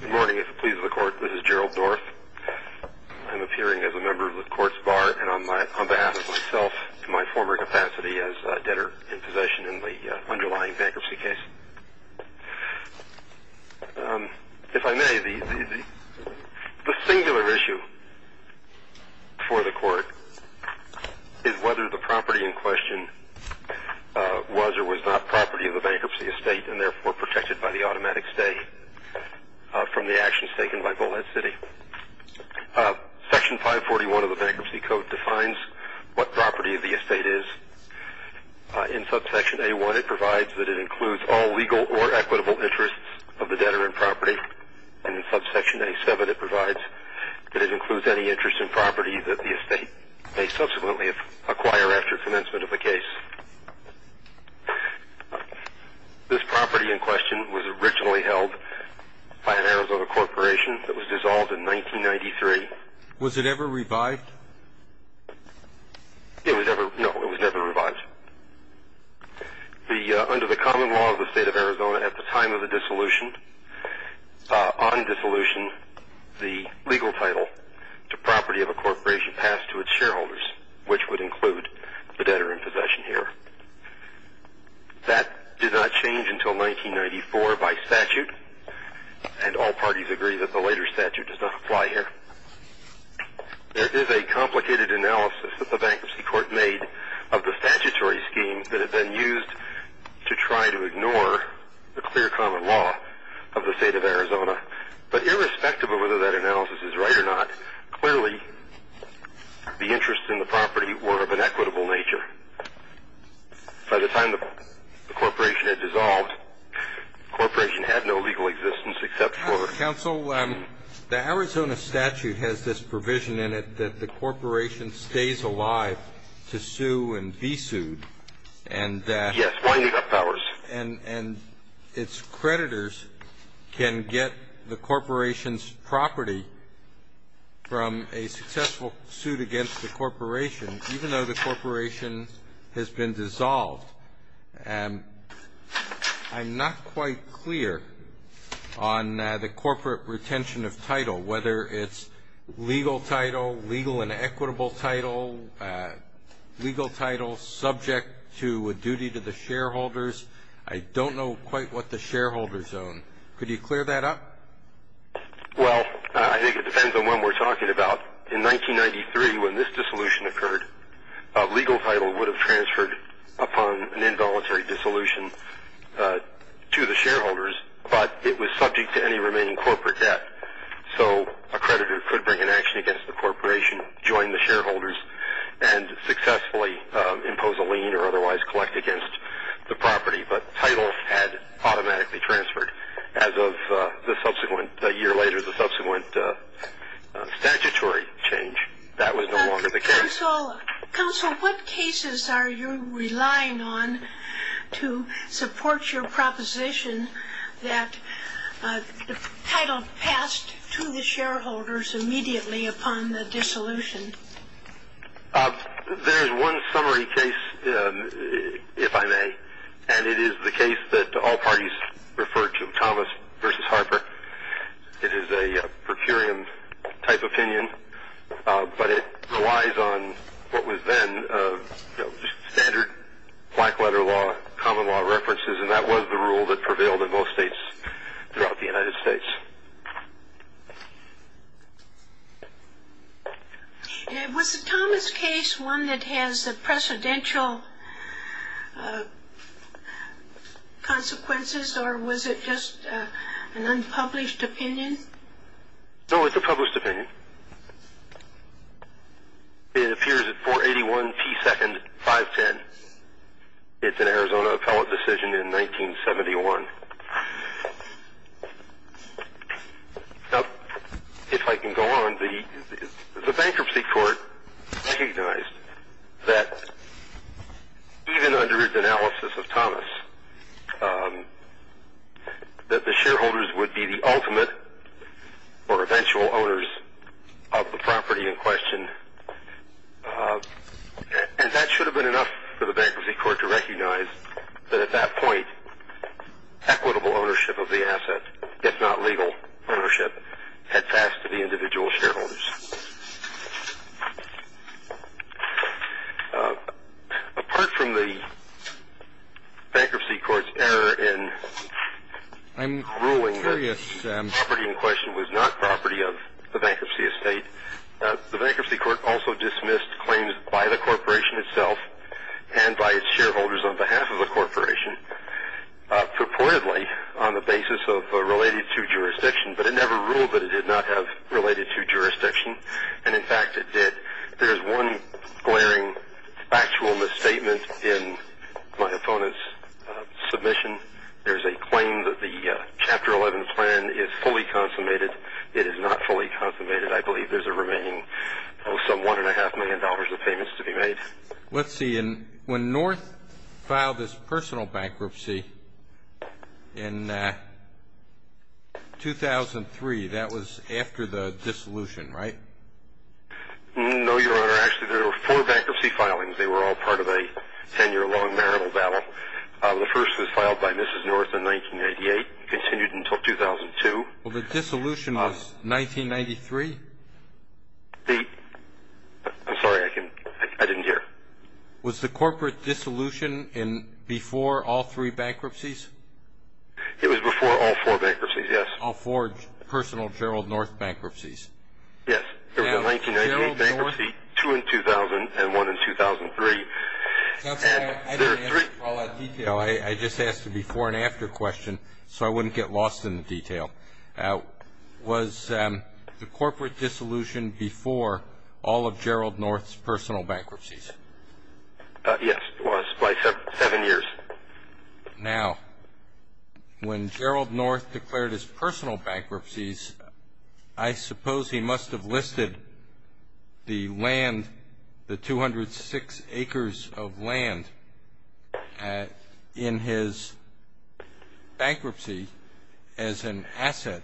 Good morning. If it pleases the court, this is Gerald North. I'm appearing as a member of the court's bar and on behalf of myself in my former capacity as a debtor in possession in the underlying bankruptcy case. If I may, the singular issue for the court is whether the property in question was or was not property of the bankruptcy estate and therefore protected by the automatic stay from the actions taken by Bullhead City. Section 541 of the Bankruptcy Code defines what property of the estate is. In subsection A1, it provides that it includes all legal or equitable interests of the debtor in property. And in subsection A7, it provides that it includes any interest in property that the estate may subsequently acquire after commencement of the case. This property in question was originally held by an Arizona corporation that was dissolved in 1993. Was it ever revived? No, it was never revived. Under the common law of the state of Arizona at the time of the dissolution, on dissolution, the legal title to property of a corporation passed to its shareholders, which would include the debtor in possession here. That did not change until 1994 by statute, and all parties agree that the later statute does not apply here. There is a complicated analysis that the bankruptcy court made of the statutory schemes that had been used to try to ignore the clear common law of the state of Arizona. But irrespective of whether that analysis is right or not, clearly the interests in the property were of an equitable nature. By the time the corporation had dissolved, the corporation had no legal existence except for the The Arizona statute has this provision in it that the corporation stays alive to sue and be sued. Yes, winding up powers. And its creditors can get the corporation's property from a successful suit against the corporation, even though the corporation has been dissolved. I'm not quite clear on the corporate retention of title, whether it's legal title, legal and equitable title, legal title subject to a duty to the shareholders. I don't know quite what the shareholders own. Could you clear that up? Well, I think it depends on what we're talking about. In 1993, when this dissolution occurred, legal title would have transferred upon an involuntary dissolution to the shareholders, but it was subject to any remaining corporate debt. So a creditor could bring an action against the corporation, join the shareholders, and successfully impose a lien or otherwise collect against the property. But title had automatically transferred as of a year later, the subsequent statutory change. That was no longer the case. Counsel, what cases are you relying on to support your proposition that title passed to the shareholders immediately upon the dissolution? There's one summary case, if I may, and it is the case that all parties refer to, Thomas v. Harper. It is a per curiam type opinion, but it relies on what was then standard black letter law, common law references, and that was the rule that prevailed in most states throughout the United States. Was the Thomas case one that has the precedential consequences, or was it just an unpublished opinion? No, it's a published opinion. It appears at 481 P. 2nd, 510. It's an Arizona appellate decision in 1971. Now, if I can go on, the bankruptcy court recognized that even under the analysis of Thomas, that the shareholders would be the ultimate or eventual owners of the property in question, and that should have been enough for the bankruptcy court to recognize that at that point, equitable ownership of the asset, if not legal ownership, had passed to the individual shareholders. Apart from the bankruptcy court's error in ruling that the property in question was not property of the bankruptcy estate, the bankruptcy court also dismissed claims by the corporation itself and by its shareholders on behalf of the corporation purportedly on the basis of related to jurisdiction, but it never ruled that it did not have related to jurisdiction, and in fact it did. There's one glaring factual misstatement in my opponent's submission. There's a claim that the Chapter 11 plan is fully consummated. It is not fully consummated. I believe there's a remaining, oh, some $1.5 million of payments to be made. Let's see. When North filed his personal bankruptcy in 2003, that was after the dissolution, right? No, Your Honor. Actually, there were four bankruptcy filings. They were all part of a 10-year-long marital battle. The first was filed by Mrs. North in 1988, continued until 2002. Well, the dissolution was 1993? I'm sorry. I didn't hear. Was the corporate dissolution before all three bankruptcies? It was before all four bankruptcies, yes. All four personal Gerald North bankruptcies. Yes. There was a 1998 bankruptcy, two in 2000, and one in 2003. I didn't ask for all that detail. I just asked a before and after question so I wouldn't get lost in the detail. Was the corporate dissolution before all of Gerald North's personal bankruptcies? Yes, it was, by seven years. Now, when Gerald North declared his personal bankruptcies, I suppose he must have listed the 206 acres of land in his bankruptcy as an asset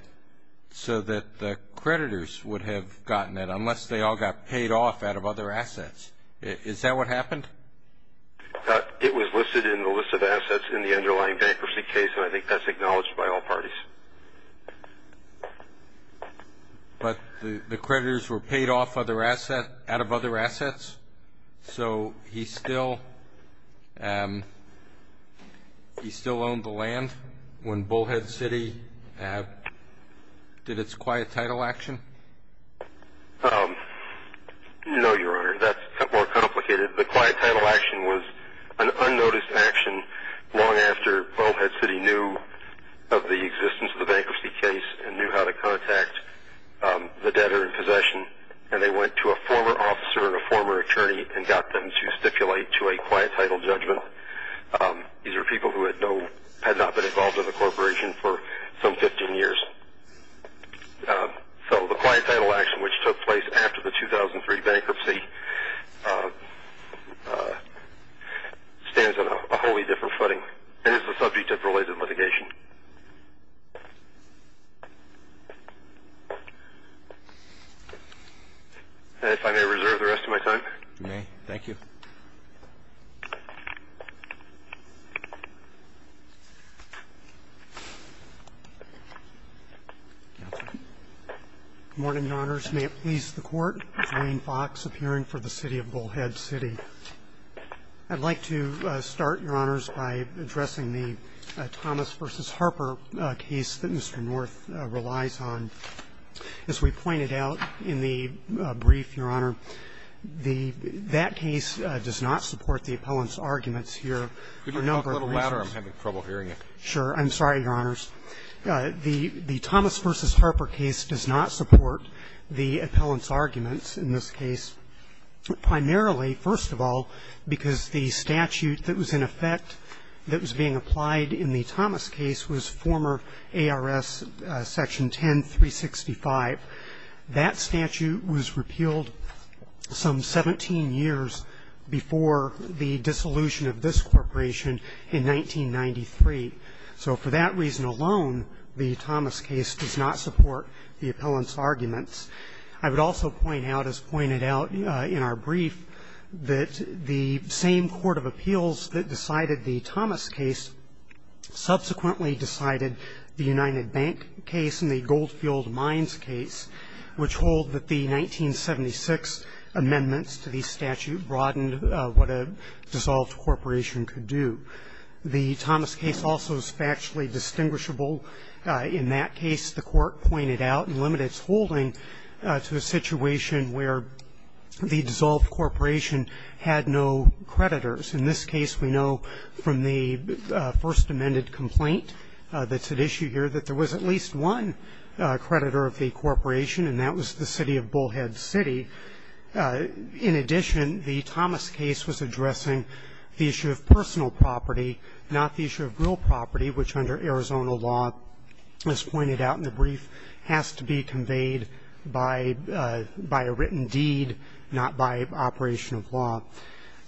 so that the creditors would have gotten it, unless they all got paid off out of other assets. Is that what happened? It was listed in the list of assets in the underlying bankruptcy case, and I think that's acknowledged by all parties. But the creditors were paid off out of other assets, so he still owned the land when Bullhead City did its quiet title action? No, Your Honor, that's more complicated. The quiet title action was an unnoticed action long after Bullhead City knew of the existence of the bankruptcy case and knew how to contact the debtor in possession, and they went to a former officer and a former attorney and got them to stipulate to a quiet title judgment. These are people who had not been involved in the corporation for some 15 years. So the quiet title action, which took place after the 2003 bankruptcy, stands on a wholly different footing and is the subject of related litigation. And if I may reserve the rest of my time? You may. Thank you. Good morning, Your Honors. May it please the Court. Dwayne Fox, appearing for the City of Bullhead City. I'd like to start, Your Honors, by addressing the Thomas v. Harper case that Mr. North relies on. As we pointed out in the brief, Your Honor, that case does not support the appellant's arguments here for a number of reasons. Could you talk a little louder? I'm having trouble hearing you. Sure. I'm sorry, Your Honors. The Thomas v. Harper case does not support the appellant's arguments in this case, primarily, first of all, because the statute that was in effect that was being applied in the Thomas case was former ARS Section 10-365. That statute was repealed some 17 years before the dissolution of this corporation in 1993. So for that reason alone, the Thomas case does not support the appellant's arguments. I would also point out, as pointed out in our brief, that the same court of appeals that decided the Thomas case subsequently decided the United Bank case and the Goldfield Mines case, which hold that the 1976 amendments to the statute broadened what a dissolved corporation could do. The Thomas case also is factually distinguishable. In that case, the court pointed out and limited its holding to a situation where the dissolved corporation had no creditors. In this case, we know from the first amended complaint that's at issue here that there was at least one creditor of the corporation, and that was the city of Bullhead City. In addition, the Thomas case was addressing the issue of personal property, not the issue of real property, which under Arizona law, as pointed out in the brief, has to be conveyed by a written deed, not by operation of law.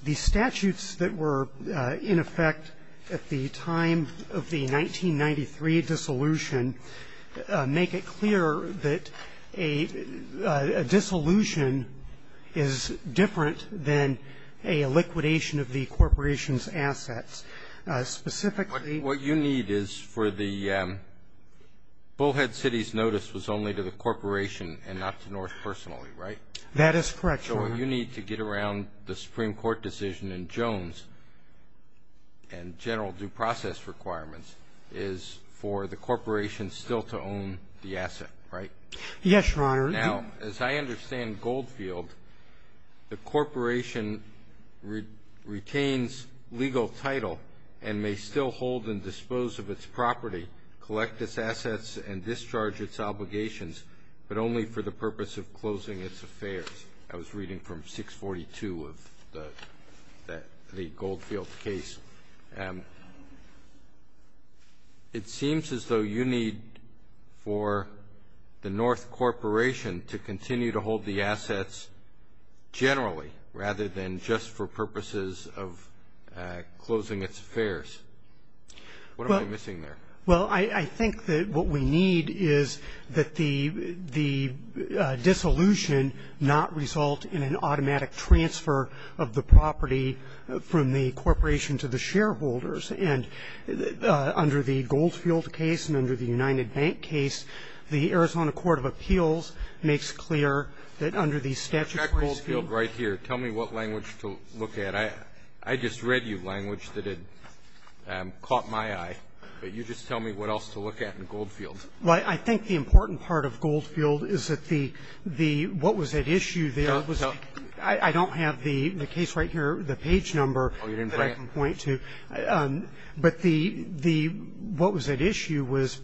The statutes that were in effect at the time of the 1993 dissolution make it clear that a dissolution is different than a liquidation of the corporation's assets. What you need is for the Bullhead City's notice was only to the corporation and not to North personally, right? That is correct, Your Honor. So what you need to get around the Supreme Court decision in Jones and general due process requirements is for the corporation still to own the asset, right? Yes, Your Honor. Now, as I understand Goldfield, the corporation retains legal title and may still hold and dispose of its property, collect its assets, and discharge its obligations, but only for the purpose of closing its affairs. I was reading from 642 of the Goldfield case. It seems as though you need for the North Corporation to continue to hold the assets generally rather than just for purposes of closing its affairs. What am I missing there? Well, I think that what we need is that the dissolution not result in an automatic transfer of the property from the corporation to the shareholders. And under the Goldfield case and under the United Bank case, the Arizona Court of Appeals makes clear that under the statutory scheme. In fact, Goldfield right here, tell me what language to look at. I just read you language that had caught my eye. But you just tell me what else to look at in Goldfield. Well, I think the important part of Goldfield is that the what was at issue there was I don't have the case right here, the page number that I can point to. But the what was at issue was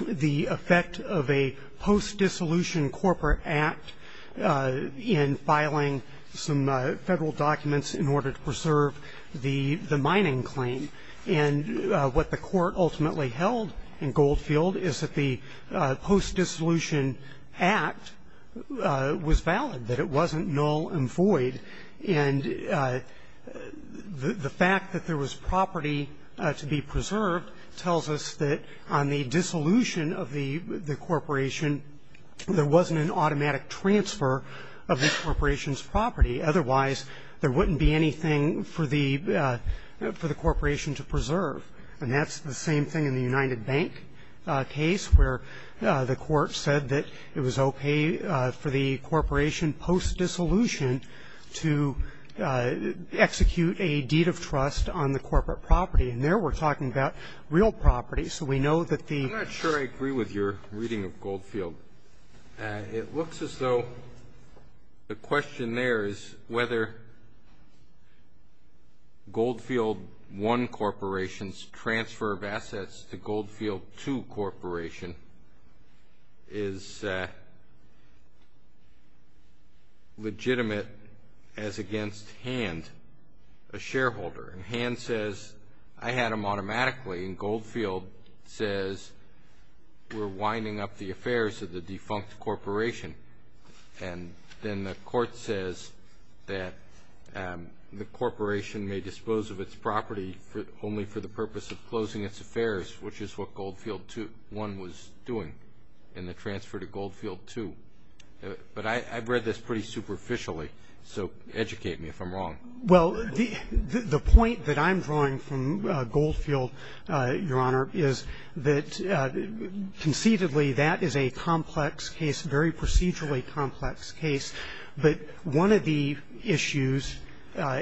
the effect of a post-dissolution corporate act in filing some Federal documents in order to preserve the mining claim. And what the Court ultimately held in Goldfield is that the post-dissolution act was valid, that it wasn't null and void. And the fact that there was property to be preserved tells us that on the dissolution of the corporation, there wasn't an automatic transfer of the corporation's property. Otherwise, there wouldn't be anything for the corporation to preserve. And that's the same thing in the United Bank case, where the Court said that it was okay for the corporation post-dissolution to execute a deed of trust on the corporate property. And there we're talking about real property. So we know that the ---- It looks as though the question there is whether Goldfield I Corporation's transfer of assets to Goldfield II Corporation is legitimate as against Hand, a shareholder. And Hand says, I had them automatically. And Goldfield says, we're winding up the affairs of the defunct corporation. And then the Court says that the corporation may dispose of its property only for the purpose of closing its affairs, which is what Goldfield I was doing in the transfer to Goldfield II. But I've read this pretty superficially, so educate me if I'm wrong. Well, the point that I'm drawing from Goldfield, Your Honor, is that conceitedly, that is a complex case, a very procedurally complex case. But one of the issues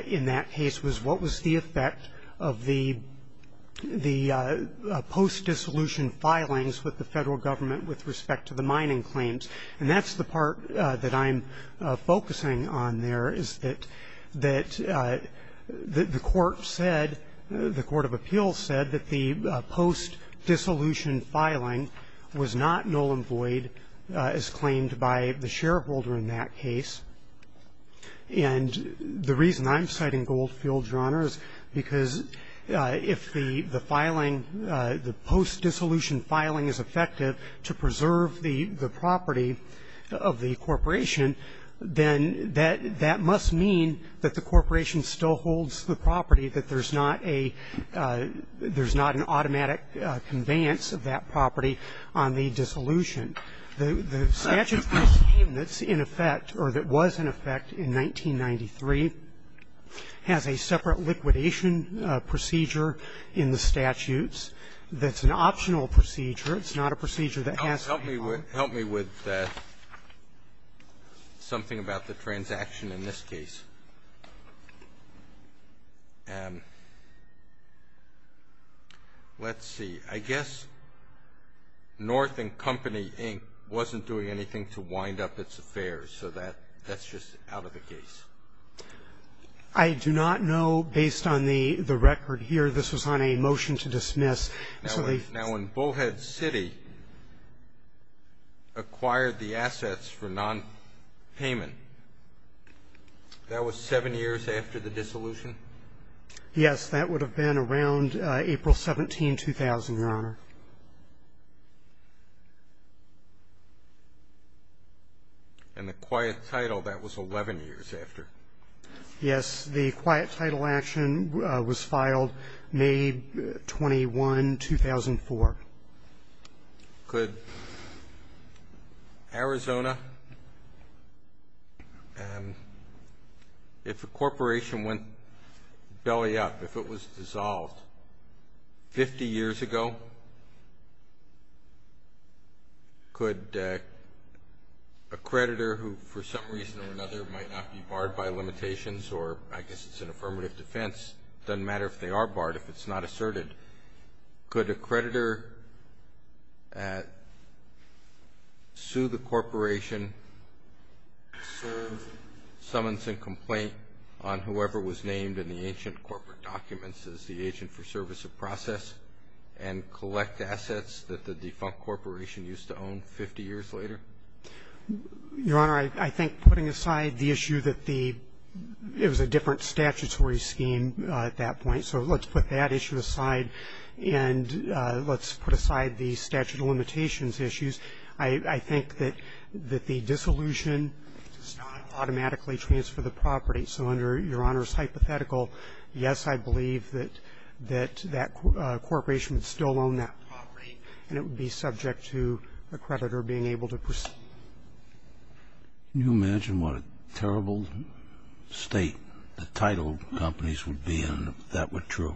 in that case was what was the effect of the post-dissolution filings with the Federal Government with respect to the mining claims. And that's the part that I'm focusing on there, is that the Court said, the Court of Appeals said that the post-dissolution filing was not null and void, as claimed by the shareholder in that case. And the reason I'm citing Goldfield, Your Honor, is because if the filing, the post-dissolution filing is effective to preserve the property of the corporation, then that must mean that the corporation still holds the property, that there's not an automatic conveyance of that property on the dissolution. The statute that's in effect, or that was in effect in 1993, has a separate liquidation procedure in the statutes that's an optional procedure. It's not a procedure that has to be followed. Alito, help me with something about the transaction in this case. Let's see. I guess North and Company, Inc. wasn't doing anything to wind up its affairs, so that's just out of the case. I do not know, based on the record here, this was on a motion to dismiss. Now, when Bullhead City acquired the assets for nonpayment, that was seven years after the dissolution? Yes. That would have been around April 17, 2000, Your Honor. And the quiet title, that was 11 years after? Yes. The quiet title action was filed May 21, 2004. Could Arizona, if a corporation went belly up, if it was dissolved 50 years ago, could a creditor who, for some reason or another, might not be barred by limitations, or I guess it's an affirmative defense, it doesn't matter if they are barred if it's not asserted, could a creditor sue the corporation, serve summons and complaint on whoever was named in the ancient corporate documents as the agent for service of process, and collect assets that the defunct corporation used to own 50 years later? Your Honor, I think putting aside the issue that it was a different statutory scheme at that point, so let's put that issue aside, and let's put aside the statute of limitations issues. I think that the dissolution does not automatically transfer the property. So under Your Honor's hypothetical, yes, I believe that that corporation would still own that property, and it would be subject to a creditor being able to proceed. Can you imagine what a terrible state the title companies would be in if that were true?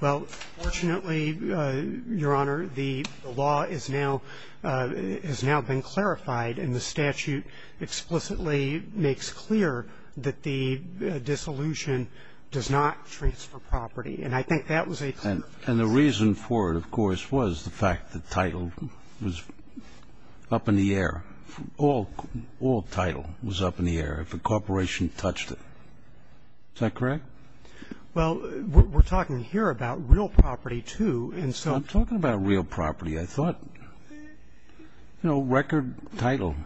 Well, fortunately, Your Honor, the law is now been clarified, and the statute explicitly makes clear that the dissolution does not transfer property. And I think that was a fair defense. And the reason for it, of course, was the fact that title was up in the air. All title was up in the air if a corporation touched it. Is that correct? Well, we're talking here about real property, too, and so ---- I'm talking about real property. I thought, you know, record title.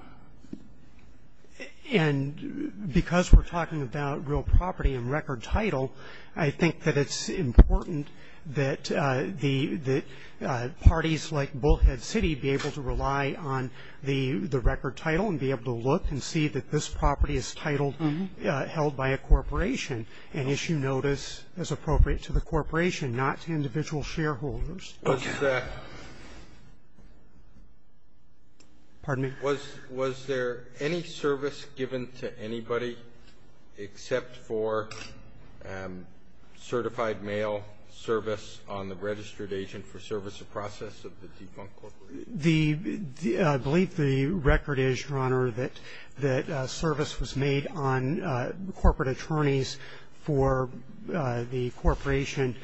And because we're talking about real property and record title, I think that it's important that parties like Bullhead City be able to rely on the record title and be able to look and see that this property is titled held by a corporation and issue notice as appropriate to the corporation, not to individual shareholders. Okay. Pardon me? Was there any service given to anybody except for certified mail service on the registered agent for service of process of the defunct corporation? The ---- I believe the record is, Your Honor, that service was made on corporate attorneys for the corporation.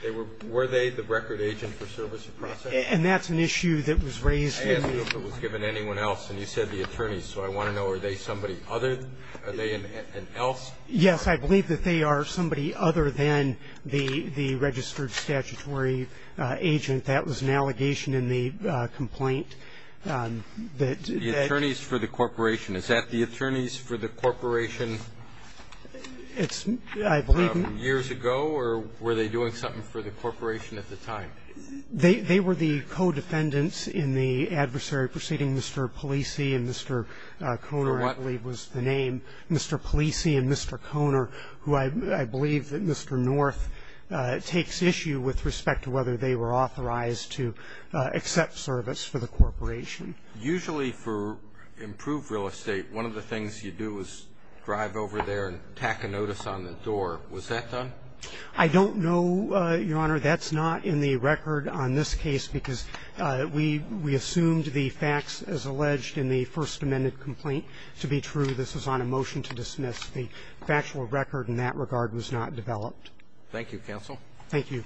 Were they the record agent for service of process? And that's an issue that was raised in the ---- I asked if it was given to anyone else, and you said the attorneys. So I want to know, are they somebody other? Are they an else? Yes, I believe that they are somebody other than the registered statutory agent. That was an allegation in the complaint that ---- The attorneys for the corporation. Is that the attorneys for the corporation years ago, or were they doing something for the corporation at the time? They were the co-defendants in the adversary proceeding, Mr. Polisi and Mr. Kohner, I believe was the name. For what? Mr. Polisi and Mr. Kohner, who I believe that Mr. North takes issue with respect to whether they were authorized to accept service for the corporation. Usually for improved real estate, one of the things you do is drive over there and tack a notice on the door. Was that done? I don't know, Your Honor. That's not in the record on this case, because we assumed the facts as alleged in the First Amendment complaint to be true. This was on a motion to dismiss. The factual record in that regard was not developed. Thank you, counsel. Thank you.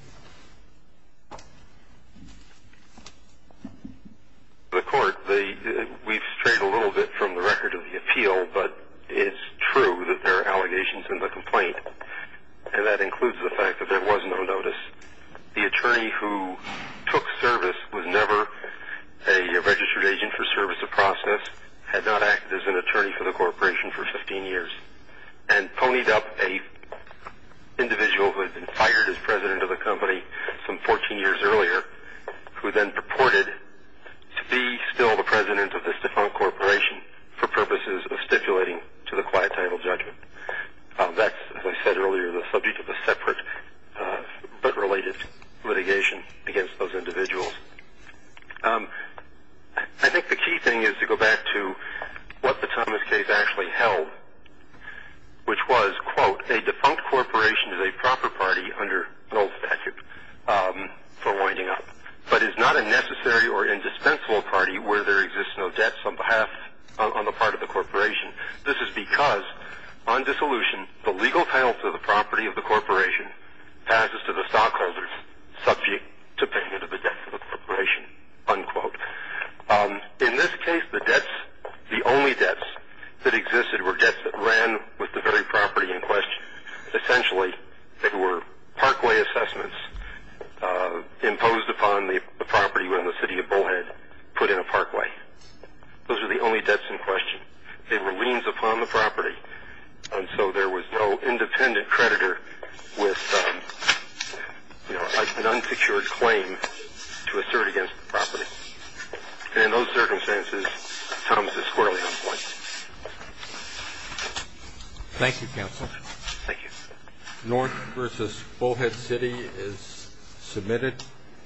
The court, the ---- we've strayed a little bit from the record of the appeal, but it's true that there are allegations in the complaint, and that includes the fact that there was no notice. The attorney who took service was never a registered agent for service of process, had not acted as an attorney for the corporation for 15 years, and ponied up an individual who had been fired as president of the company some 14 years earlier, who then purported to be still the president of this defunct corporation for purposes of stipulating to the quiet title judgment. That's, as I said earlier, the subject of a separate but related litigation against those individuals. I think the key thing is to go back to what the Thomas case actually held, which was, quote, a defunct corporation is a proper party under an old statute for winding up, but is not a necessary or indispensable party where there exists no debts on behalf, on the part of the corporation. This is because on dissolution, the legal title to the property of the corporation passes to the stockholders subject to payment of the debts of the corporation, unquote. In this case, the debts, the only debts that existed were debts that ran with the very property in question. Essentially, they were parkway assessments imposed upon the property when the city of Bullhead put in a parkway. Those were the only debts in question. They were liens upon the property, and so there was no independent creditor with an unsecured claim to assert against the property. And in those circumstances, Thomas is squarely on point. Thank you, counsel. Thank you. North versus Bullhead City is submitted.